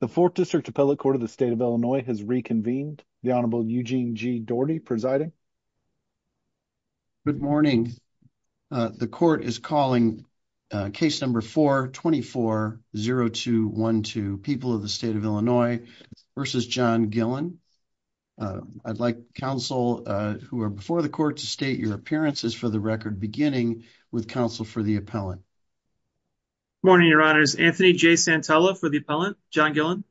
The Fourth District Appellate Court of the State of Illinois has reconvened. The Honorable Eugene G. Doherty presiding. Good morning. The court is calling case number 424-0212, People of the State of Illinois v. John Gillin. I'd like counsel who are before the court to state your appearances for the record, beginning with counsel for the appellant. Good morning, Your Honors. Anthony J. Santella for the appellant. John Gillin.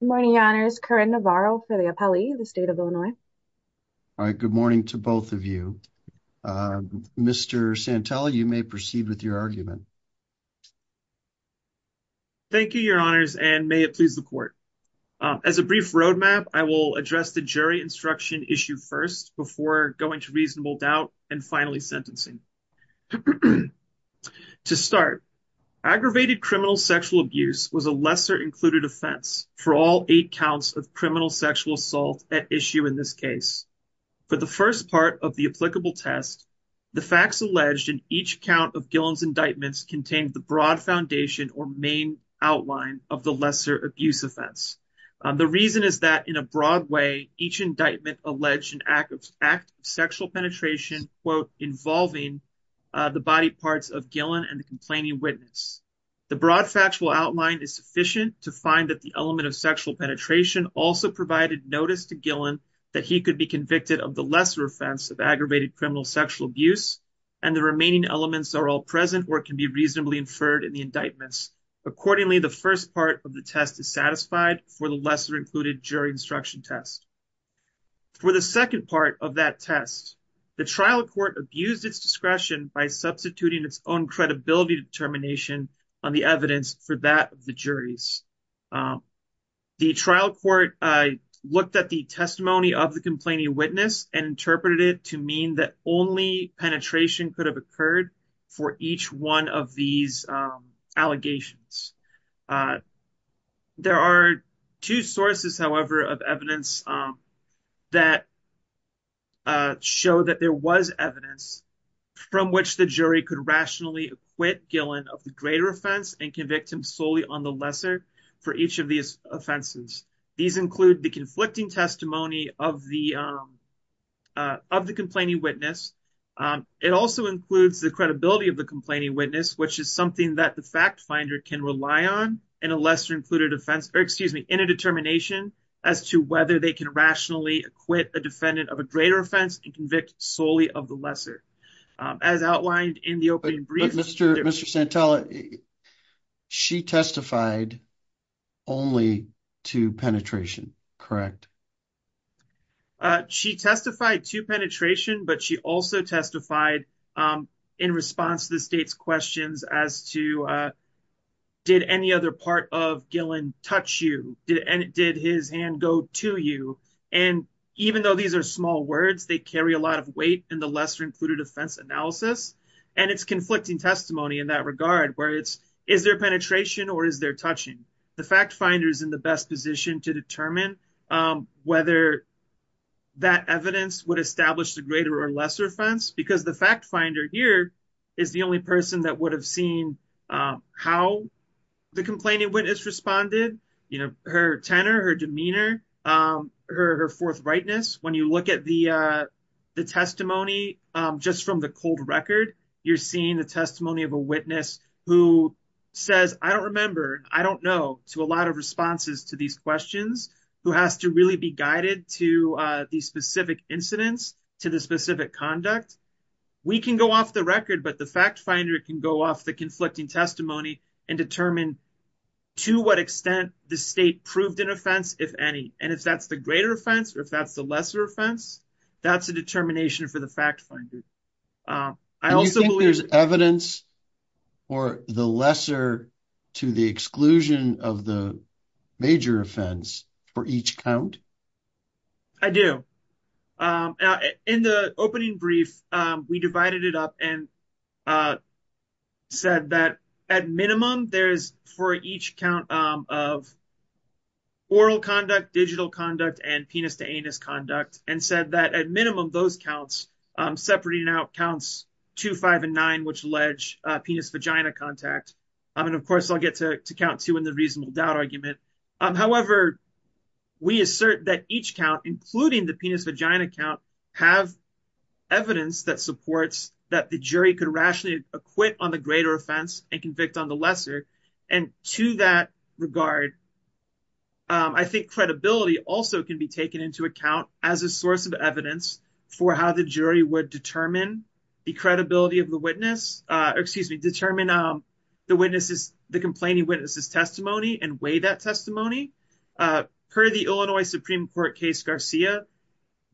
Good morning, Your Honors. Corinne Navarro for the appellee of the State of Illinois. All right. Good morning to both of you. Mr. Santella, you may proceed with your argument. Thank you, Your Honors, and may it please the court. As a brief roadmap, I will address the jury instruction issue first before going to reasonable doubt and finally sentencing. To start, aggravated criminal sexual abuse was a lesser-included offense for all eight counts of criminal sexual assault at issue in this case. For the first part of the applicable test, the facts alleged in each count of Gillin's indictments contained the broad foundation or main outline of the lesser abuse offense. The reason is that in a broad way, each indictment alleged an act of sexual penetration, involving the body parts of Gillin and the complaining witness. The broad factual outline is sufficient to find that the element of sexual penetration also provided notice to Gillin that he could be convicted of the lesser offense of aggravated criminal sexual abuse, and the remaining elements are all present or can be reasonably inferred in the indictments. Accordingly, the first part of the test is satisfied for the lesser-included jury instruction test. For the second part of that test, the trial court abused its discretion by substituting its own credibility determination on the evidence for that of the jury's. The trial court looked at the testimony of the complaining witness and interpreted it to mean that only penetration could have occurred for each one of these allegations. There are two sources, however, of evidence that show that there was evidence from which the jury could rationally acquit Gillin of the greater offense and convict him solely on the lesser for each of these offenses. These include the conflicting testimony of the complaining witness. It also includes the credibility of the complaining witness, which is something that the fact finder can rely on in a lesser-included offense, or excuse me, in a determination as to whether they can rationally acquit a defendant of a greater offense and convict solely of the lesser. As outlined in the opening brief, Mr. Santella, she testified only to penetration, correct? She testified to penetration, but she also testified in response to the state's questions as to, did any other part of Gillin touch you? Did his hand go to you? Even though these are small words, they carry a lot of weight in the lesser-included offense analysis, and it's conflicting testimony in that regard, where it's, is there penetration or is there touching? The fact finder is in the best position to determine whether that evidence would establish the greater or lesser offense, because the fact finder here is the only person that would have seen how the complaining witness responded, you know, her tenor, her demeanor, her forthrightness. When you look at the testimony just from the cold record, you're seeing the testimony of a witness who says, I don't remember, I don't know, to a lot of responses to these questions, who has to really be guided to the specific incidents, to the specific conduct. We can go off the record, but the fact finder can go off the conflicting testimony and determine to what extent the state proved an offense, if any, and if that's the greater offense or if that's the lesser offense, that's a determination for the fact finder. I also believe there's evidence for the lesser to the exclusion of the major offense for each count. I do. In the opening brief, we divided it up and said that at minimum, there's for each count of oral conduct, digital conduct, and penis to anus conduct, and said that at minimum, those counts, separating out counts two, five, and nine, which allege penis-vagina contact. Of course, I'll get to count two in the reasonable doubt argument. However, we assert that each count, including the penis-vagina count, have evidence that supports that the jury could rationally acquit on the greater offense and convict on the lesser. To that regard, I think credibility also can be taken into account as a source of evidence for how the jury would determine the credibility of the witness, or excuse me, determine the complaining witness's testimony and weigh that testimony. Per the Illinois Supreme Court case Garcia,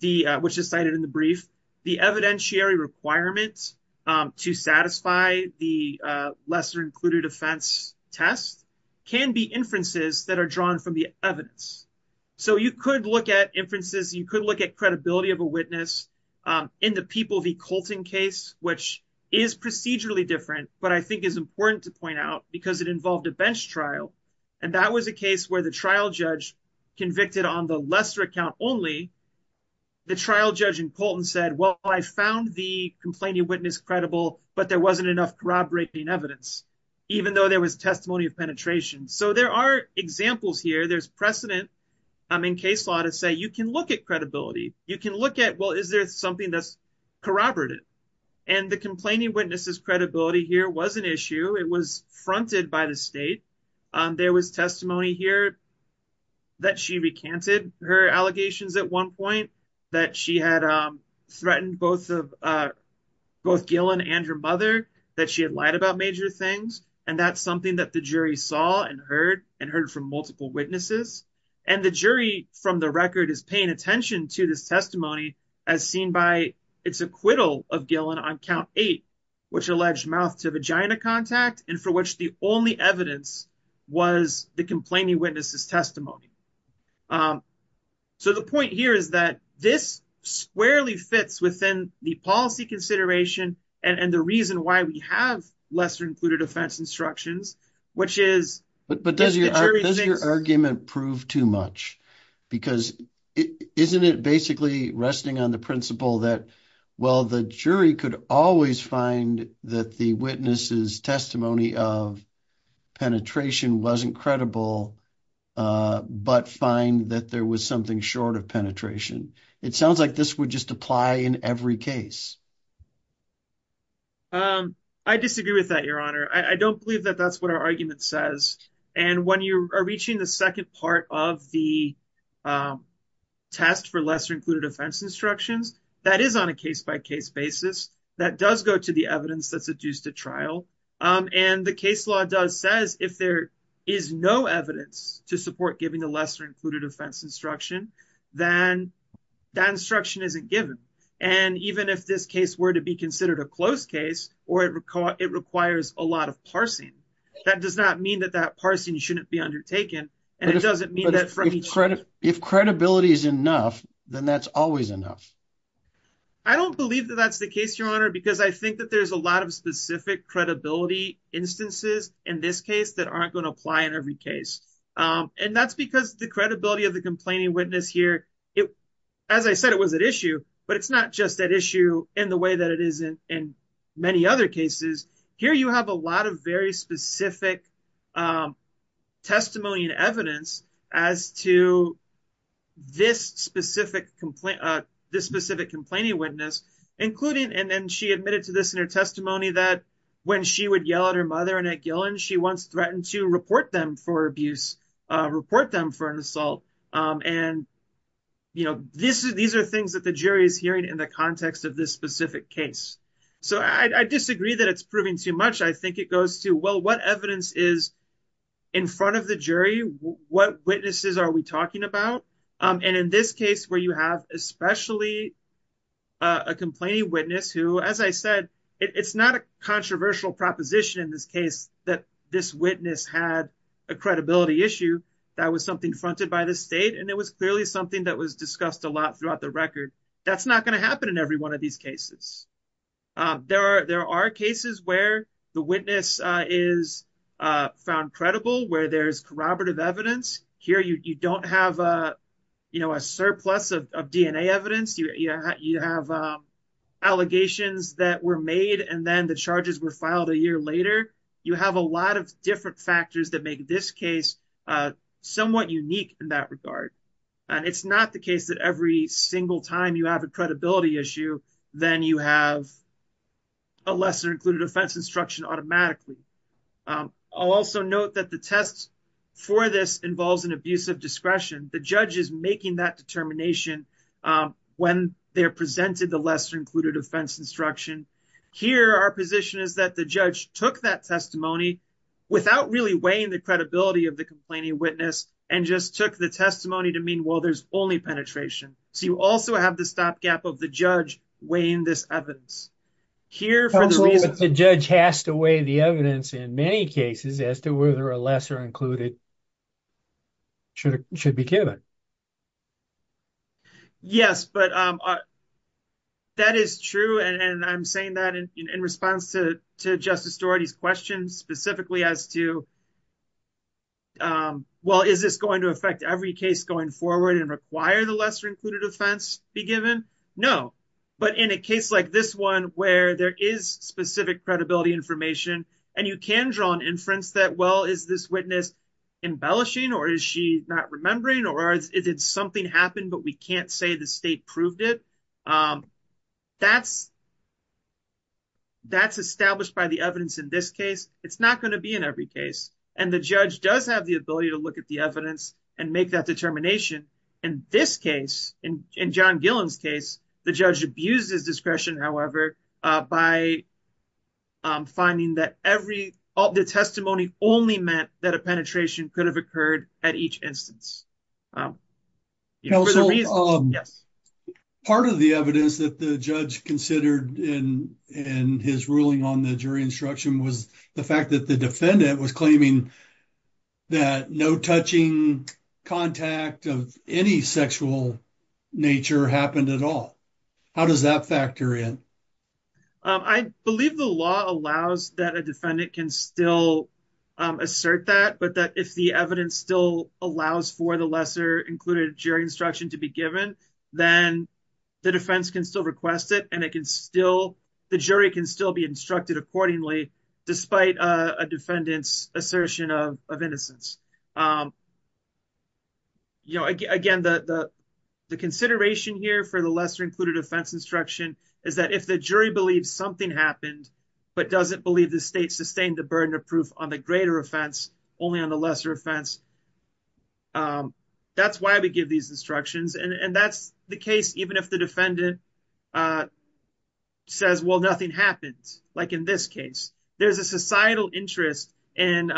which is cited in the brief, the evidentiary requirements to satisfy the lesser-included offense test can be inferences that are drawn from the evidence. You could look at inferences, you could look at credibility of a witness in the People v. Colton case, which is procedurally different, but I think is important to point out because it involved a bench trial. And that was a case where the trial judge convicted on the lesser count only. The trial judge in Colton said, well, I found the complaining witness credible, but there wasn't enough corroborating evidence, even though there was testimony of penetration. So there are examples here. There's precedent in case law to say you can look at credibility. You can look at, well, is there something that's corroborated? And the complaining witness's credibility here was an issue. It was fronted by the state. There was testimony here that she recanted her allegations at one point, that she had threatened both Gillen and her mother, that she had lied about major things. And that's something that the jury saw and heard, and heard from multiple witnesses. And the jury from the record is paying attention to this testimony as seen by its acquittal of Gillen on count eight, which alleged mouth to vagina contact, and for which the only evidence was the complaining witness's testimony. So the point here is that this squarely fits within the policy consideration and the reason why we have lesser included offense instructions, which is... But does your argument prove too much? Because isn't it basically resting on the principle that, well, the jury could always find that the witness's testimony of penetration wasn't credible, but find that there was something short of penetration. It sounds like this would just apply in every case. I disagree with that, Your Honor. I don't believe that that's what our argument says. And when you are reaching the second part of the test for lesser included offense instructions, that is on a case-by-case basis. That does go to the evidence that's adduced to trial. And the case law does says if there is no evidence to support giving the lesser included offense instruction, then that instruction isn't given. And even if this case were to be considered a close case, or it requires a lot of parsing, that does not mean that that parsing shouldn't be undertaken. And it doesn't mean that... If credibility is enough, then that's always enough. I don't believe that that's the case, Your Honor, because I think that there's a lot of specific credibility instances in this case that aren't going to apply in every case. And that's because the credibility of the complaining witness here... As I said, it was at issue, but it's not just at issue in the way that it is in many other cases. Here you have a lot of very specific testimony and evidence as to this specific complaining witness, including... And then she admitted to this in her testimony that when she would yell at her mother and at report them for an assault. And these are things that the jury is hearing in the context of this specific case. So I disagree that it's proving too much. I think it goes to, well, what evidence is in front of the jury? What witnesses are we talking about? And in this case where you have especially a complaining witness who, as I said, it's not a controversial proposition in this case that this witness had a credibility issue, that was something fronted by the state. And it was clearly something that was discussed a lot throughout the record. That's not going to happen in every one of these cases. There are cases where the witness is found credible, where there's corroborative evidence. Here you don't have a surplus of DNA evidence. You have allegations that were made and then the charges were filed a year later. You have a lot of different factors that make this case somewhat unique in that regard. And it's not the case that every single time you have a credibility issue, then you have a lesser included offense instruction automatically. I'll also note that the tests for this involves an abusive discretion. The judge is making that determination when they're presented the lesser included offense instruction. Here, our position is that the judge took that testimony without really weighing the credibility of the complaining witness and just took the testimony to mean, well, there's only penetration. So you also have the stopgap of the judge weighing this evidence. Here, for the reason- The judge has to weigh the evidence in many cases as to whether a lesser included offense should be given. Yes, but that is true. And I'm saying that in response to Justice Dougherty's questions specifically as to, well, is this going to affect every case going forward and require the lesser included offense be given? No. But in a case like this one, where there is specific credibility information and you can draw an inference that, well, is this witness embellishing or is she not remembering or did something happen but we can't say the state proved it? That's established by the evidence in this case. It's not going to be in every case. And the judge does have the ability to look at the evidence and make that determination. In this case, in John Gillen's case, the judge abused his discretion, however, by finding that the testimony only meant that a penetration could have occurred at each instance. Part of the evidence that the judge considered in his ruling on the jury instruction was the fact that the defendant was claiming that no touching contact of any sexual nature happened at all. How does that factor in? I believe the law allows that a defendant can still assert that, but that if the evidence still allows for the lesser included jury instruction to be given, then the defense can still request it and the jury can still be instructed accordingly despite a defendant's assertion of innocence. Again, the consideration here for the lesser included offense instruction is that if the jury believes something happened but doesn't believe the state sustained the burden of proof on the greater offense only on the lesser offense, that's why we give these instructions. And that's the case even if the defendant says, well, nothing happens. Like in this case, there's a societal interest in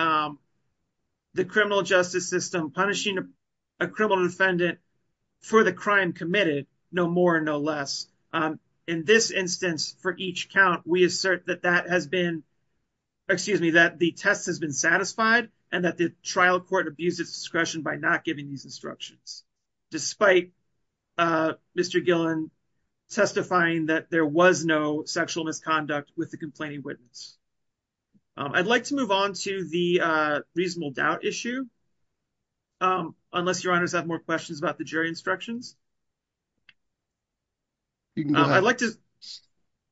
the criminal justice system punishing a criminal defendant for the crime committed, no more, no less. In this instance, for each count, we assert that the test has been satisfied and that the trial court abused its discretion by not giving these instructions despite Mr. Gillen testifying that there was no sexual misconduct with the complaining witness. I'd like to move on to the reasonable doubt issue unless your honors have more questions about the jury instructions.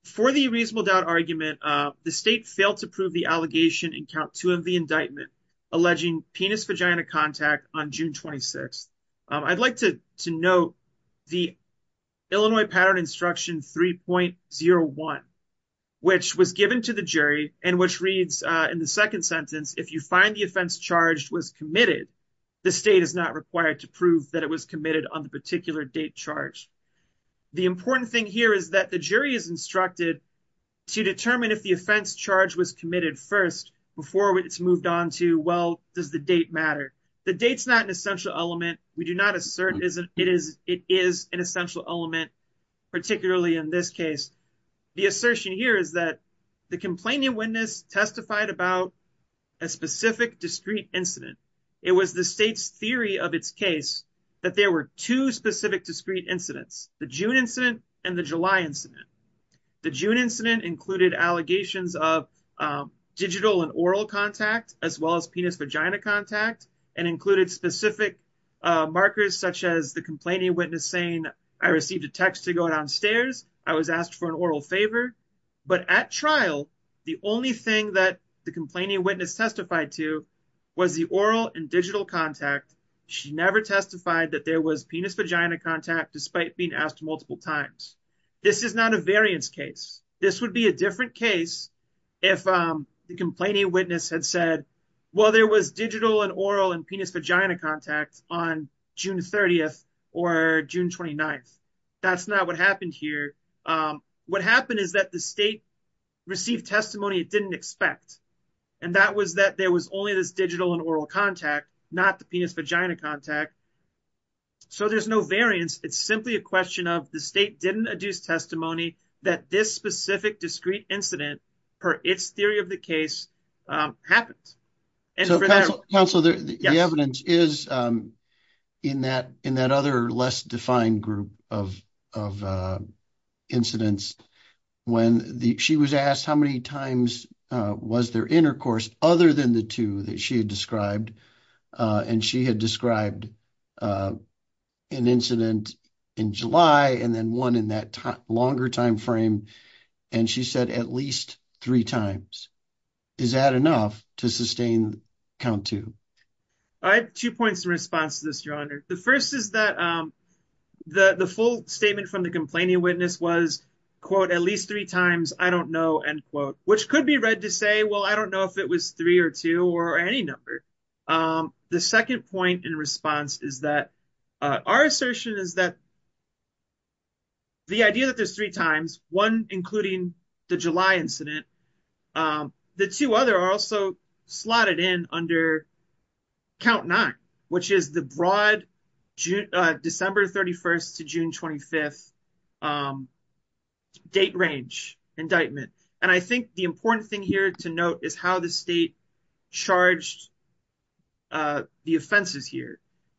For the reasonable doubt argument, the state failed to prove the allegation in count two of the indictment alleging penis vagina contact on June 26th. I'd like to note the Illinois pattern instruction 3.01, which was given to the jury and which reads in the second sentence, if you find the offense charged was committed, the state is not required to prove that it was committed on the particular date charge. The important thing here is that the jury is instructed to determine if the offense charge was committed first before it's moved on to, well, does the date matter? The date's not an essential element. We do not assert it is an essential element, particularly in this case. The assertion here is that the complaining witness testified about a specific discrete incident. It was the state's theory of its case that there were two specific discrete incidents, the June incident and the July incident. The June incident included allegations of digital and oral contact as well as penis vagina contact and included specific markers such as the complaining witness saying I received a text to go downstairs, I was asked for an oral favor, but at trial the only thing that the complaining witness testified to was the oral and digital contact. She never testified that there was penis vagina contact despite being asked multiple times. This is not a variance case. This would be a different case if the complaining witness had said, well, there was digital and oral and penis vagina contact on June 30th or June 29th. That's not what happened here. What happened is that the state received testimony it didn't expect and that was that there was only this digital and oral contact, not the penis vagina contact. So there's no variance. It's simply a question of the state didn't adduce testimony that this specific discrete incident, per its theory of the case, happened. Counselor, the evidence is in that other less defined group of incidents. When she was asked how many times was there intercourse other than the two that she had described and she had described an incident in July and then one in that longer time frame and she said at least three times. Is that enough to sustain count two? I have two points in response to this, your honor. The first is that the full statement from the complaining witness was at least three times. I don't know, end quote, which could be read to say, well, I don't know if it was three or two or any number. The second point in response is that our assertion is that the idea that there's three times one, including the July incident, the two other are also slotted in under count nine, which is the broad December 31st to June 25th date range indictment. And I think the important thing here to note is how the state charged the offenses here.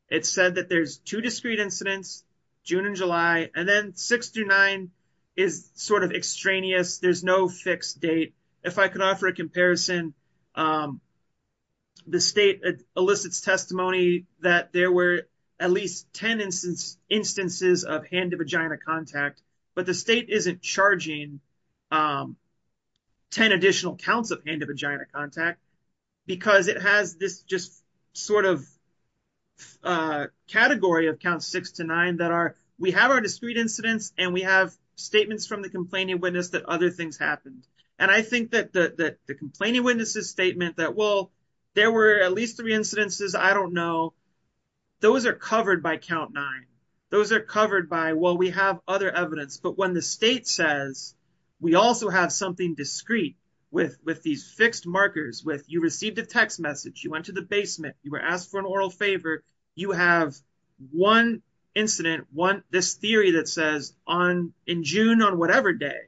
It said that there's two discrete incidents, June and July, and then six through nine is sort of extraneous. There's no fixed date. If I could offer a comparison, the state elicits testimony that there were at least 10 instances of hand-to-vagina contact, but the state isn't charging 10 additional counts of hand-to-vagina contact because it has this just sort of category of count six to nine that we have our discrete incidents and we have statements from the complaining witness that other things happened. And I think that the complaining witnesses statement that, well, there were at least three incidences, I don't know, those are covered by count nine. Those are covered by, well, we have other evidence. But when the state says we also have something discrete with these fixed markers, with you received a text message, you went to the basement, you were asked for an oral favor, you have one incident, this theory that says in June on whatever day,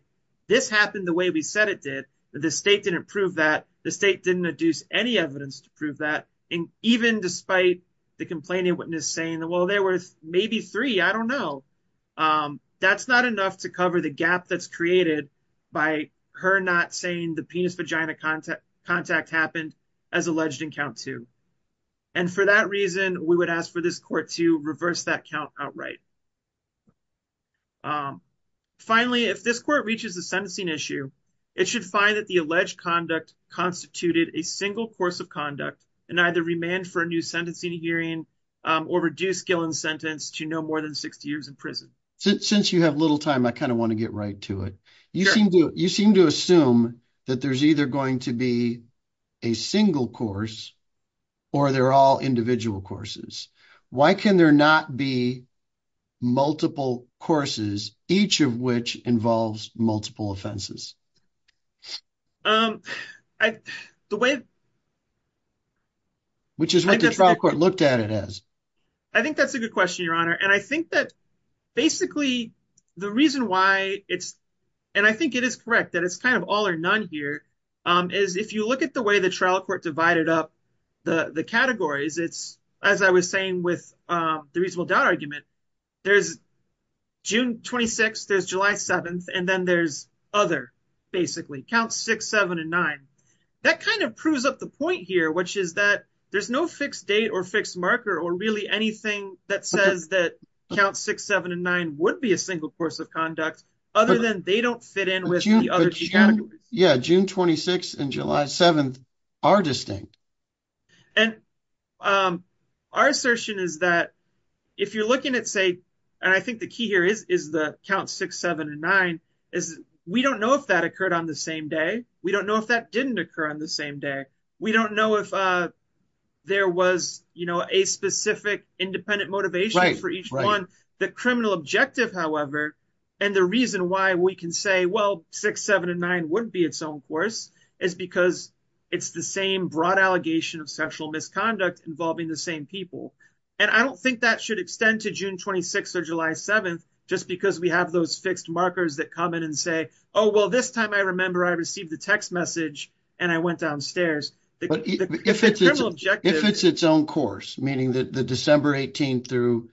this happened the way we said it that the state didn't prove that, the state didn't deduce any evidence to prove that, and even despite the complaining witness saying, well, there were maybe three, I don't know. That's not enough to cover the gap that's created by her not saying the penis-vagina contact happened as alleged in count two. And for that reason, we would ask for this court to reverse that count outright. Finally, if this court reaches the sentencing issue, it should find that the alleged conduct constituted a single course of conduct and either remand for a new sentencing hearing or reduce Gillen's sentence to no more than 60 years in prison. Since you have little time, I kind of want to get right to it. You seem to assume that there's either going to be a single course or they're all individual courses. Why can there not be multiple courses, each of which involves multiple offenses? Which is what the trial court looked at it as. I think that's a good question, Your Honor. And I think that basically the reason why it's, and I think it is correct that it's kind of all or none here, is if you look at the way the trial court divided up the categories, it's, as I was saying with the reasonable doubt argument, there's June 26th, there's July 7th, and then there's other, basically. Counts six, seven, and nine. That kind of proves up the point here, which is that there's no fixed date or fixed marker or really anything that says that count six, seven, and nine would be a single course of conduct, other than they don't fit in with the other categories. Yeah, June 26th and July 7th are distinct. And our assertion is that if you're looking at, say, and I think the key here is the count six, seven, and nine, is we don't know if that occurred on the same day. We don't know if that didn't occur on the same day. We don't know if there was, you know, a specific independent motivation for each one. The criminal objective, however, and the reason why we can say, well, six, seven, and nine wouldn't be its own course, is because it's the same broad allegation of sexual misconduct involving the same people. And I don't think that should extend to June 26th or July 7th, just because we have those fixed markers that come in and say, oh, well, this time I remember I received the text message and I went downstairs. If it's its own course, meaning that the December 18th through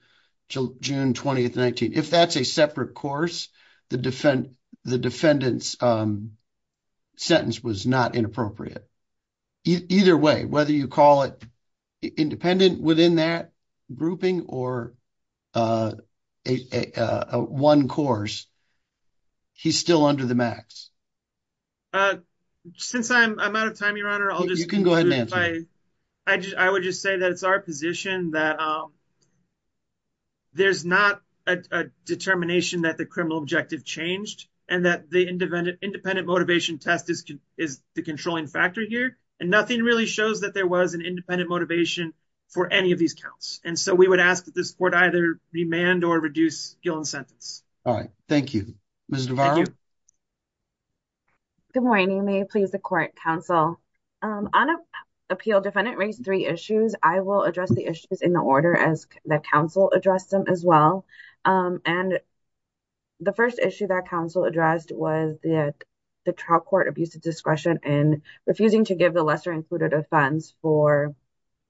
June 20th, 19th, if that's a separate course, the defendant's sentence was not inappropriate. Either way, whether you call it independent within that grouping or one course, he's still under the max. Since I'm out of time, your honor, I'll just... You can go ahead and answer. I would just say that it's our position that there's not a determination that the criminal objective changed and that the independent motivation test is the controlling factor here. And nothing really shows that there was an independent motivation for any of these counts. And so we would ask that this court either remand or reduce Gillen's sentence. All right. Thank you. Ms. Navarro. Good morning. May it please the court, counsel. On appeal, defendant raised three issues. I will address the issues in the order as the counsel addressed them as well. And the first issue that counsel addressed was the trial court abuse of discretion and refusing to give the lesser included offense for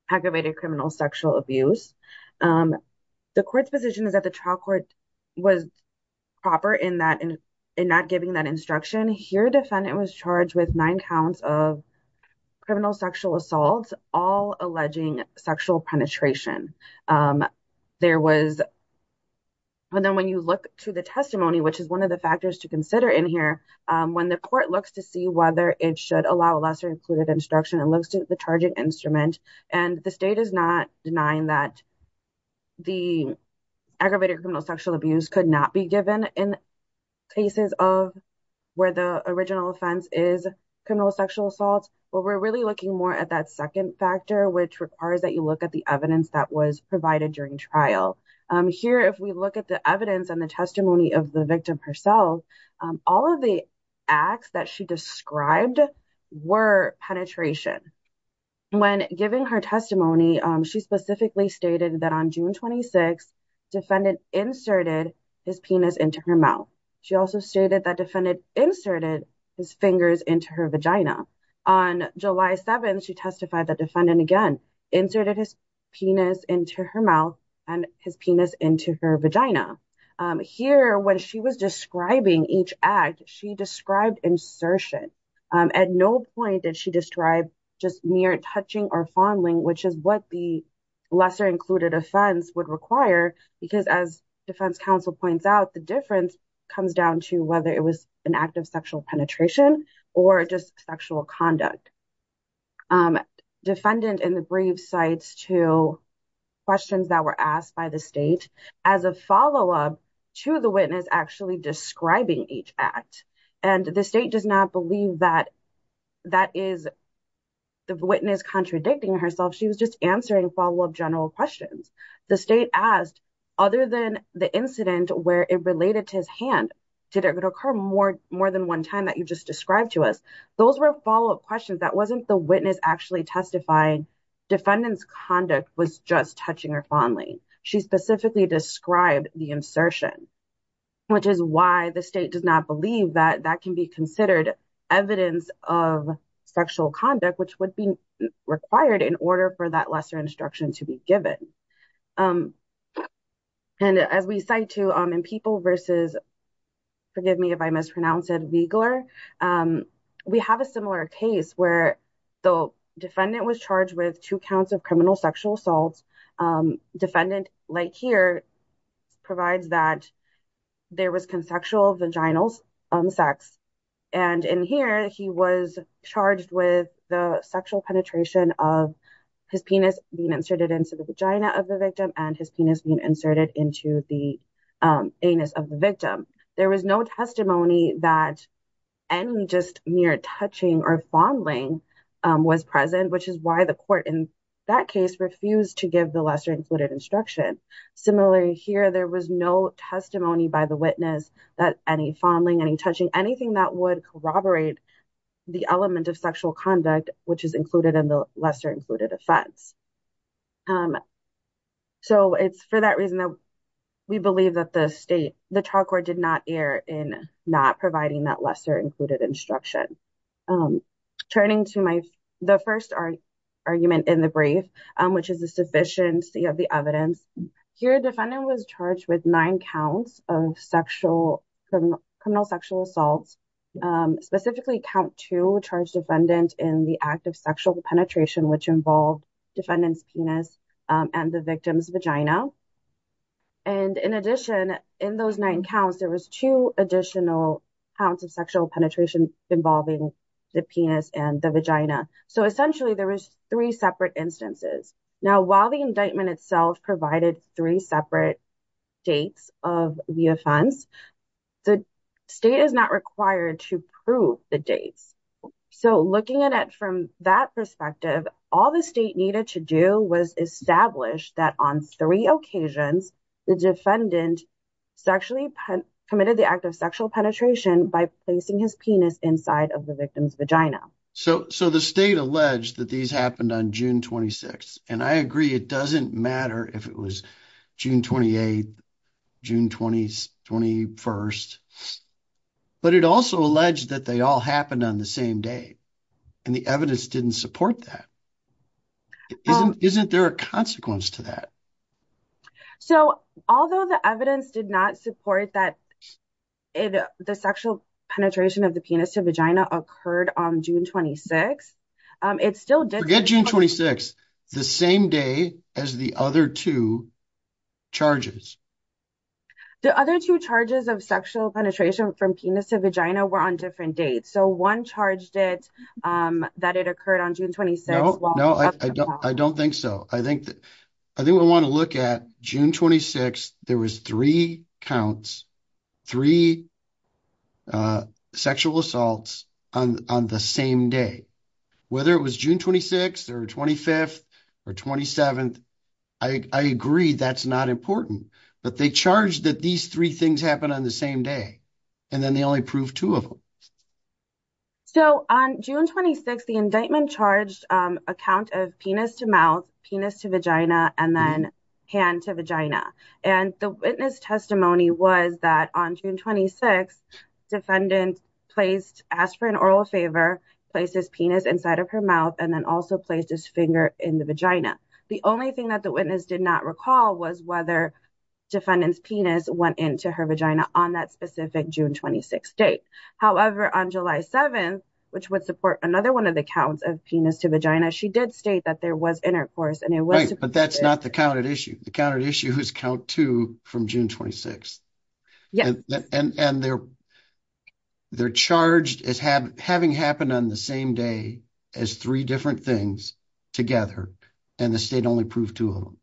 aggravated criminal sexual abuse. The court's position is that the trial court was proper in not giving that instruction. Here, defendant was charged with nine counts of criminal sexual assault, all alleging sexual penetration. And then when you look to the testimony, which is one of the factors to consider in here, when the court looks to see whether it should allow lesser included instruction, it looks to the charging instrument. And the state is not denying that the aggravated criminal sexual abuse could not be given in cases of where the original offense is criminal sexual assault. But we're really looking more at that second factor, which requires that you look at the evidence that was provided during trial. Here, if we look at the evidence and the testimony of the victim herself, all of the acts that she described were penetration. When giving her testimony, she specifically stated that on June 26th, defendant inserted his penis into her mouth. She also stated that defendant inserted his fingers into her vagina. On July 7th, she testified that defendant again inserted his penis into her mouth and his penis into her vagina. Here, when she was describing each act, she described insertion. At no point did she describe just mere touching or fondling, which is what the lesser included offense would require. Because as defense counsel points out, the difference comes down to whether it was an act of sexual penetration or just sexual conduct. Defendant in the brief cites to questions that were asked by the state as a follow-up to the witness actually describing each act. The state does not believe that that is the witness contradicting herself. She was just answering follow-up general questions. The state asked, other than the incident where it related to his hand, did it occur more than one time that you just described to us? Those were follow-up questions. That wasn't the witness actually testifying. Defendant's conduct was just touching or fondling. She specifically described the insertion, which is why the state does not believe that that can be considered evidence of sexual conduct, which would be required in order for that lesser instruction to be given. As we cite to in People v. Weigler, we have a similar case where the defendant was charged with two counts of criminal sexual assault. Defendant like here provides that there was consensual vaginal sex. In here, he was charged with the sexual penetration of his penis being inserted into the vagina of the victim and his penis being inserted into the anus of the victim. There was no testimony that any just mere touching or fondling was present, which is why the court in that case refused to give the lesser included instruction. Similarly, here, there was no testimony by the witness that any fondling, any touching, anything that would corroborate the element of sexual conduct, which is included in the lesser included offense. It's for that reason that we believe that the state, did not err in not providing that lesser included instruction. Turning to the first argument in the brief, which is the sufficiency of the evidence. Here, the defendant was charged with nine counts of criminal sexual assault. Specifically, count two charged defendant in the act of sexual penetration, which involved defendant's penis and the victim's vagina. In addition, in those nine counts, there was two additional counts of sexual penetration involving the penis and the vagina. Essentially, there was three separate instances. Now, while the indictment itself provided three separate dates of the offense, the state is not required to prove the dates. Looking at it from that perspective, all the state needed to do was establish that on three occasions, the defendant sexually committed the act of sexual penetration by placing his penis inside of the victim's vagina. The state alleged that these happened on June 26th. I agree, it doesn't matter if it was June 28th, June 21st, but it also alleged that they all happened on the same day. The evidence didn't support that. Isn't there a consequence to that? Although the evidence did not support that the sexual penetration of the penis to vagina occurred on June 26th, it still did... Forget June 26th, the same day as the other two charges. The other two charges of sexual penetration from penis to vagina were on different dates. One charged that it occurred on June 26th. No, I don't think so. I think we want to look at June 26th, there was three counts, three sexual assaults on the same day. Whether it was June 26th or 25th or 27th, I agree that's not important, but they charged that these three things happened on the same day, and then they only proved two of them. On June 26th, the indictment charged a count of penis to mouth, penis to vagina, and then hand to vagina. The witness testimony was that on June 26th, defendant asked for an oral favor, placed his penis inside of her mouth, and then also placed his finger in the vagina. The only thing that the witness did not recall was whether defendant's penis went into her vagina on that specific June 26th date. However, on July 7th, which would support another one of the counts of penis to vagina, she did state that there was intercourse and it was... Right, but that's not the counted issue. The counted issue is count two from June 26th. Yes. They're charged as having happened on the same day as three different things together, and the state only proved two of them.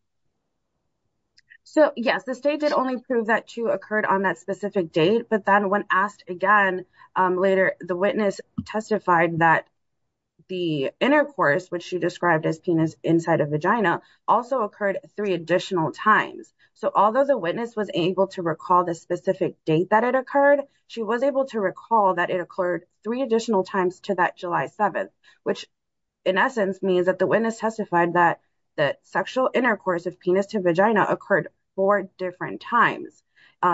So yes, the state did only prove that two occurred on that specific date, but then when asked again later, the witness testified that the intercourse, which she described as penis inside of vagina, also occurred three additional times. So although the witness was able to recall the specific date that it occurred, she was able to recall that it occurred three additional times to that July 7th, which in essence means that the witness testified that the sexual intercourse of penis to vagina occurred four different times.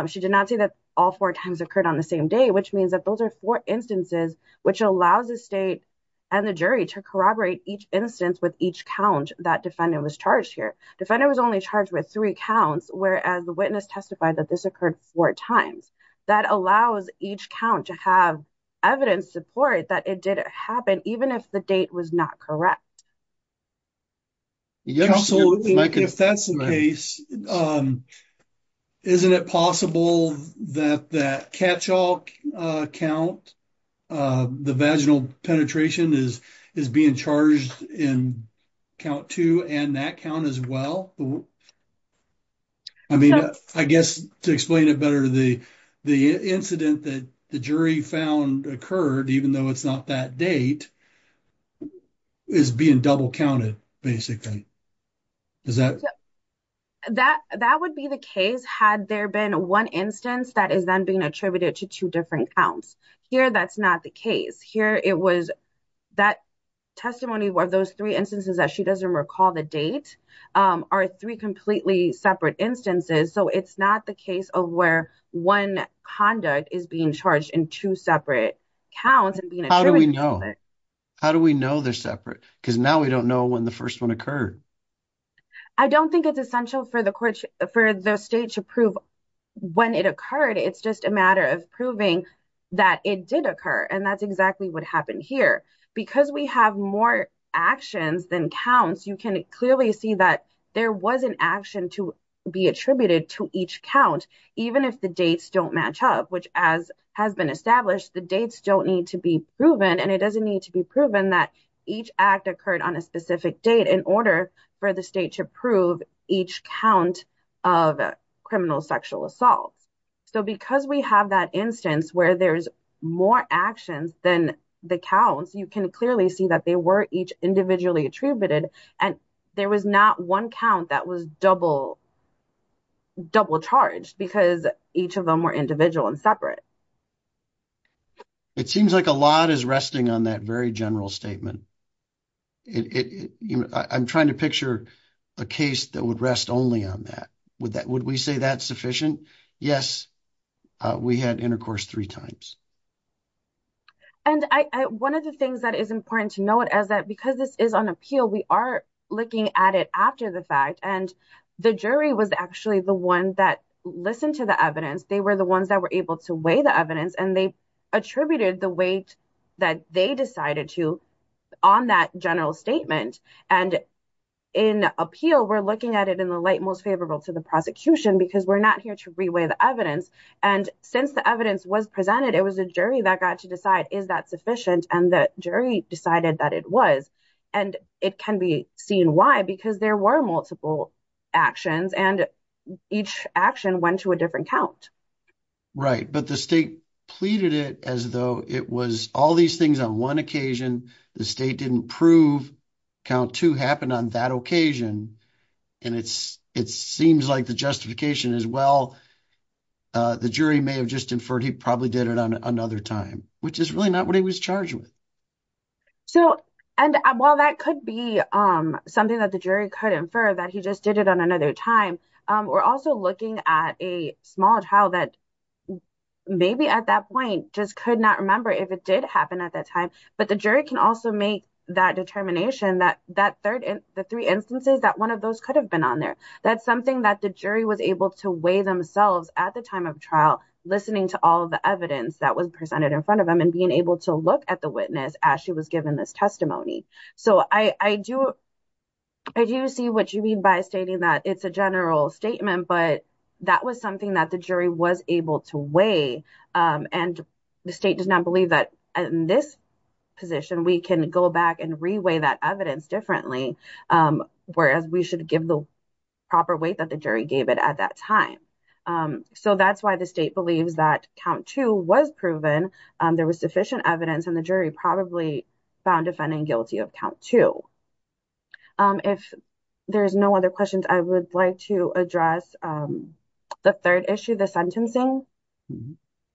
She did not say that all four times occurred on the same day, which means that those are four instances, which allows the state and the jury to corroborate each instance with each count that defendant was charged here. Defendant was only charged with three counts, whereas the witness testified that this occurred four times. That allows each count to have evidence support that it did happen, even if the date was not correct. Absolutely, if that's the case, isn't it possible that that catch-all count, the vaginal penetration, is being charged in count two and that count as well? I mean, I guess to explain it better, the incident that the jury found occurred, even though it's not that date, is being double counted, basically. That would be the case had there been one instance that is then being attributed to two different counts. Here, that's not the case. Here, it was that testimony of those three instances that she doesn't recall the date are three completely separate instances, so it's not the case of where one conduct is being charged in two separate counts. How do we know they're separate? Because now we don't know when the first one occurred. I don't think it's essential for the state to prove when it occurred. It's just a matter of proving that it did occur, and that's exactly what happened here. Because we have more actions than counts, you can clearly see that there was an action to be attributed to each count, even if the dates don't match up, which as has been established, the dates don't need to be proven, and it doesn't need to be proven that each act occurred on a specific date in order for the state to prove each count of criminal sexual assault. Because we have that instance where there's more actions than the counts, you can clearly see that they were each individually attributed, and there was not one count that was double charged because each of them were individual and separate. It seems like a lot is resting on that very general statement. I'm trying to picture a case that would rest only on that. Would we say that's sufficient? Yes, we had intercourse three times. One of the things that is important to note is that because this is on appeal, we are looking at it after the fact, and the jury was actually the one that listened to the evidence. They were the ones that were able to weigh the evidence, and they attributed the weight that they decided to on that general statement. In appeal, we're looking at it in the light most favorable to the prosecution because we're not here to re-weigh the evidence. Since the evidence was presented, it was a jury that got to decide, is that sufficient? The jury decided that it was. It can be seen why, because there were multiple actions, and each action went to a different count. Right, but the state pleaded it as though it was all these things on one occasion. The state didn't prove count two happened on that occasion, and it seems like the justification is, well, the jury may have just inferred he probably did it on another time, which is really not what he was charged with. While that could be something that the jury could infer that he just did it on another time, we're also looking at a small trial that maybe at that point just could not remember if it did happen at that time, but the jury can also make that determination that the three instances that one of those could have been on there. That's something that the jury was able to weigh themselves at the time of trial, listening to all the evidence that was presented in front of them, and being able to look at the witness as she was given this testimony. So, I do see what you mean by stating that it's a general statement, but that was something that the jury was able to weigh, and the state does not believe that in this position we can go back and re-weigh that evidence differently, whereas we should give the proper weight that the jury gave it at that time. So, that's why the state believes that count two was proven, there was sufficient evidence, and the jury probably found defendant guilty of count two. If there's no other questions, I would like to address the third issue, the sentencing.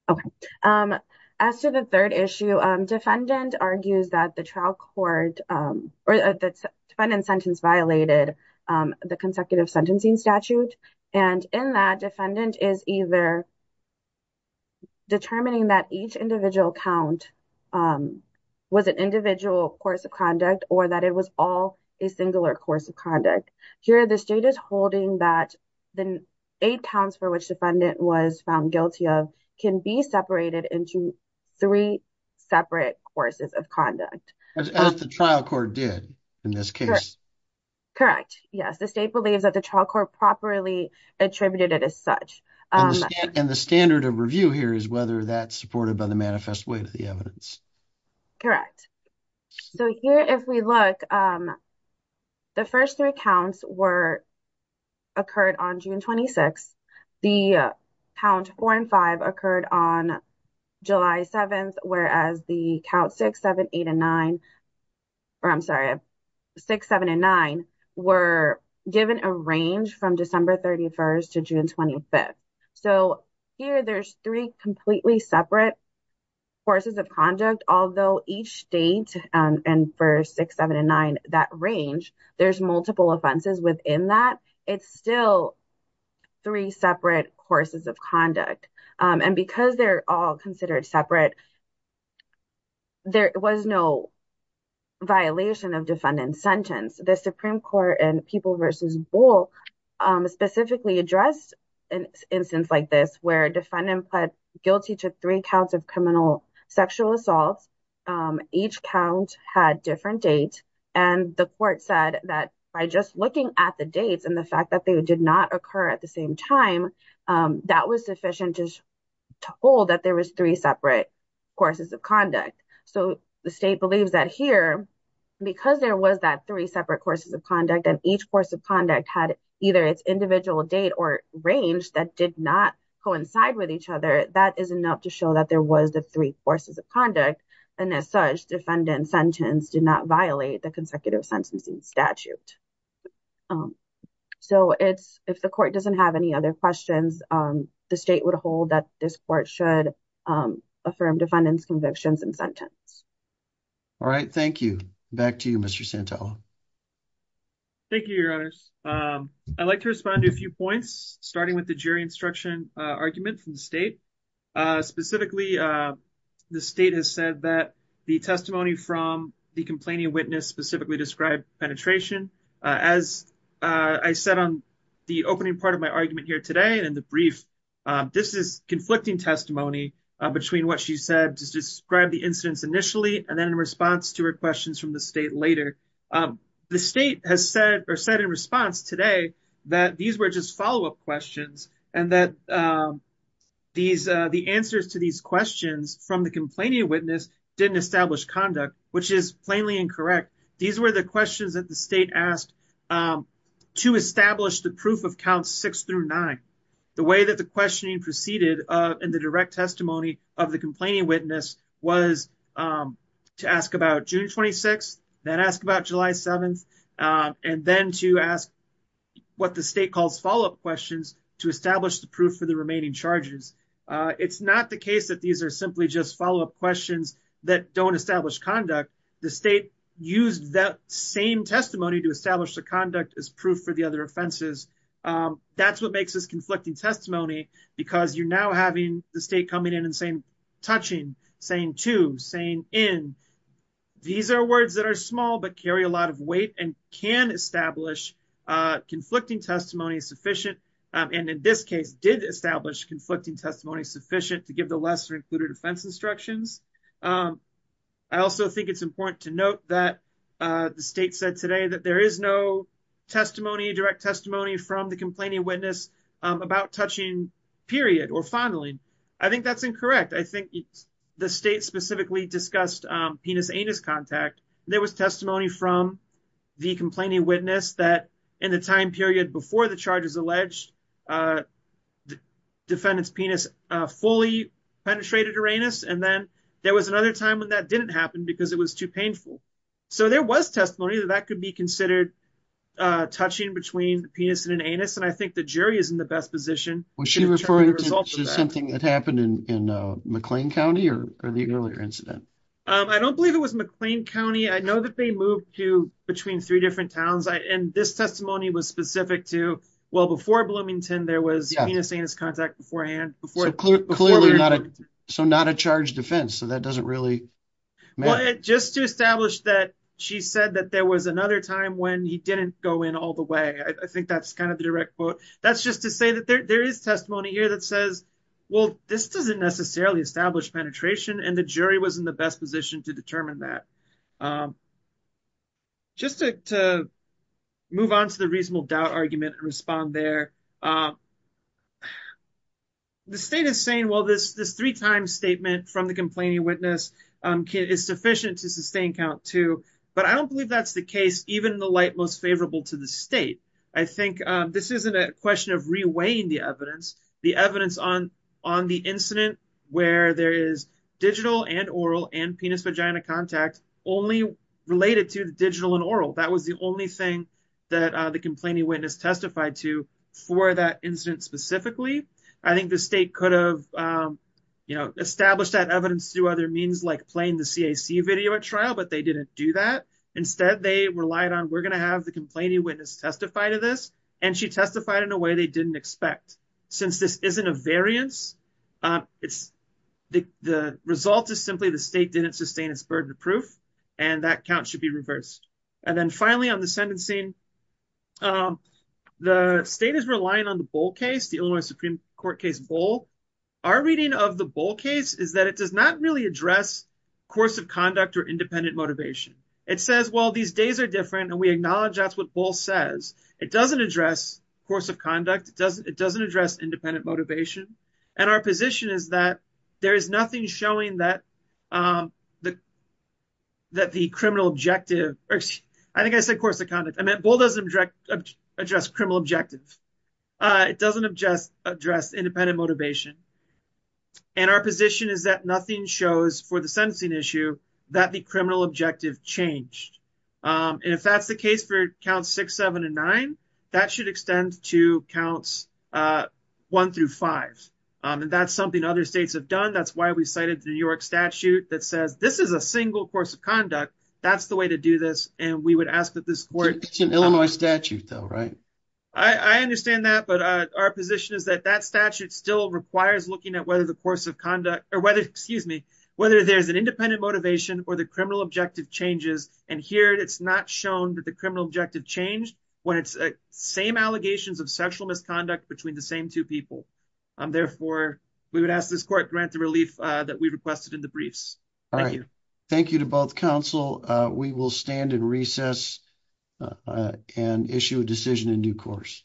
Okay, as to the third issue, defendant argues that the trial court or the defendant's sentence violated the consecutive sentencing statute, and in that, defendant is either determining that each individual count was an individual course of conduct, or that it was all a singular course of conduct. Here, the state is holding that the eight counts for which defendant was found guilty of can be separated into three separate courses of conduct. As the trial court did in this case. Correct, yes, the state believes that the trial court properly attributed it as such. And the standard of review here is whether that's supported by the manifest weight of the evidence. Correct, so here if we look, the first three counts were, occurred on June 26th, the count four and five occurred on July 7th, whereas the count six, seven, eight, and nine, or I'm sorry, six, seven, and nine were given a range from December 31st to June 25th. So here there's three completely separate courses of conduct, although each state, and for six, seven, and nine, that range, there's multiple offenses within that, it's still three separate courses of conduct. And because they're all considered separate, there was no violation of defendant's sentence. The Supreme Court and People v. Bull specifically addressed an instance like this, where a defendant pled guilty to three counts of criminal sexual assault. Each count had different dates. And the court said that by just looking at the dates and the fact that they did not occur at the same time, that was sufficient to hold that there was three separate courses of conduct. So the state believes that here, because there was that three separate courses of conduct, and each course of conduct had either its individual date or range that did not coincide with each other, that is enough to show that there was the three courses of conduct. And as such, defendant's sentence did not violate the sentencing statute. So if the court doesn't have any other questions, the state would hold that this court should affirm defendant's convictions and sentence. All right, thank you. Back to you, Mr. Santella. Thank you, Your Honors. I'd like to respond to a few points, starting with the jury instruction argument from the state. Specifically, the state has said that the testimony from the complainant-witness specifically described penetration. As I said on the opening part of my argument here today and in the brief, this is conflicting testimony between what she said to describe the incidents initially and then in response to her questions from the state later. The state has said or said in response today that these were just follow-up questions and that the answers to these questions from the complainant-witness didn't establish conduct, which is plainly incorrect. These were the questions that the state asked to establish the proof of counts six through nine. The way that the questioning proceeded in the direct testimony of the complainant-witness was to ask about June 26th, then ask about July 7th, and then to ask what the state calls follow-up questions to establish the proof for the remaining charges. It's not the case that these are simply just follow-up questions that don't establish conduct. The state used that same testimony to establish the conduct as proof for the other offenses. That's what makes this conflicting testimony because you're now having the state coming in and saying touching, saying to, saying in. These are words that are small but carry a lot of weight and can establish conflicting testimony sufficient, and in this case did establish conflicting testimony sufficient to give the lesser-included offense instructions. I also think it's important to note that the state said today that there is no testimony, direct testimony, from the complainant-witness about touching, period, or fondling. I think that's incorrect. I think the state specifically discussed penis-anus contact. There was testimony from the complainant-witness that in the time period before the charges alleged the defendant's fully penetrated her anus, and then there was another time when that didn't happen because it was too painful. So there was testimony that that could be considered touching between the penis and an anus, and I think the jury is in the best position. Was she referring to something that happened in McLean County or the earlier incident? I don't believe it was McLean County. I know that they moved to between three different towns, and this testimony was specific to, well, before Bloomington, there was penis-anus contact beforehand. So not a charged offense, so that doesn't really matter. Just to establish that she said that there was another time when he didn't go in all the way, I think that's kind of the direct quote. That's just to say that there is testimony here that says, well, this doesn't necessarily establish penetration, and the jury was in the best to determine that. Just to move on to the reasonable doubt argument and respond there, the state is saying, well, this three-time statement from the complaining witness is sufficient to sustain count two, but I don't believe that's the case, even in the light most favorable to the state. I think this isn't a question of reweighing the evidence. The evidence on the incident where there is digital and oral and penis-vagina contact only related to the digital and oral. That was the only thing that the complaining witness testified to for that incident specifically. I think the state could have established that evidence through other means like playing the CAC video at trial, but they didn't do that. Instead, they relied on, we're going to have the complaining witness testify to this, and she testified in a way they didn't expect. Since this isn't a variance, the result is simply the state didn't sustain its burden of proof, and that count should be reversed. Finally, on the sentencing, the state is relying on the Bull case, the Illinois Supreme Court case Bull. Our reading of the Bull case is that it does not really address course of conduct or independent motivation. It says, well, these days are different, and we acknowledge that's what Bull says. It doesn't address course of conduct. It doesn't address independent motivation, and our position is that there is nothing showing that the criminal objective, I think I said course of conduct. I meant Bull doesn't address criminal objective. It doesn't address independent motivation, and our position is that nothing shows for the sentencing issue that the criminal objective changed. If that's the case for six, seven, and nine, that should extend to counts one through five, and that's something other states have done. That's why we cited the New York statute that says this is a single course of conduct. That's the way to do this, and we would ask that this court- It's an Illinois statute though, right? I understand that, but our position is that that statute still requires looking at whether the course of conduct, or whether, excuse me, whether there's an independent motivation or criminal objective changes, and here it's not shown that the criminal objective changed when it's same allegations of sexual misconduct between the same two people. Therefore, we would ask this court grant the relief that we requested in the briefs. All right. Thank you. Thank you to both counsel. We will stand in recess and issue a decision in due course.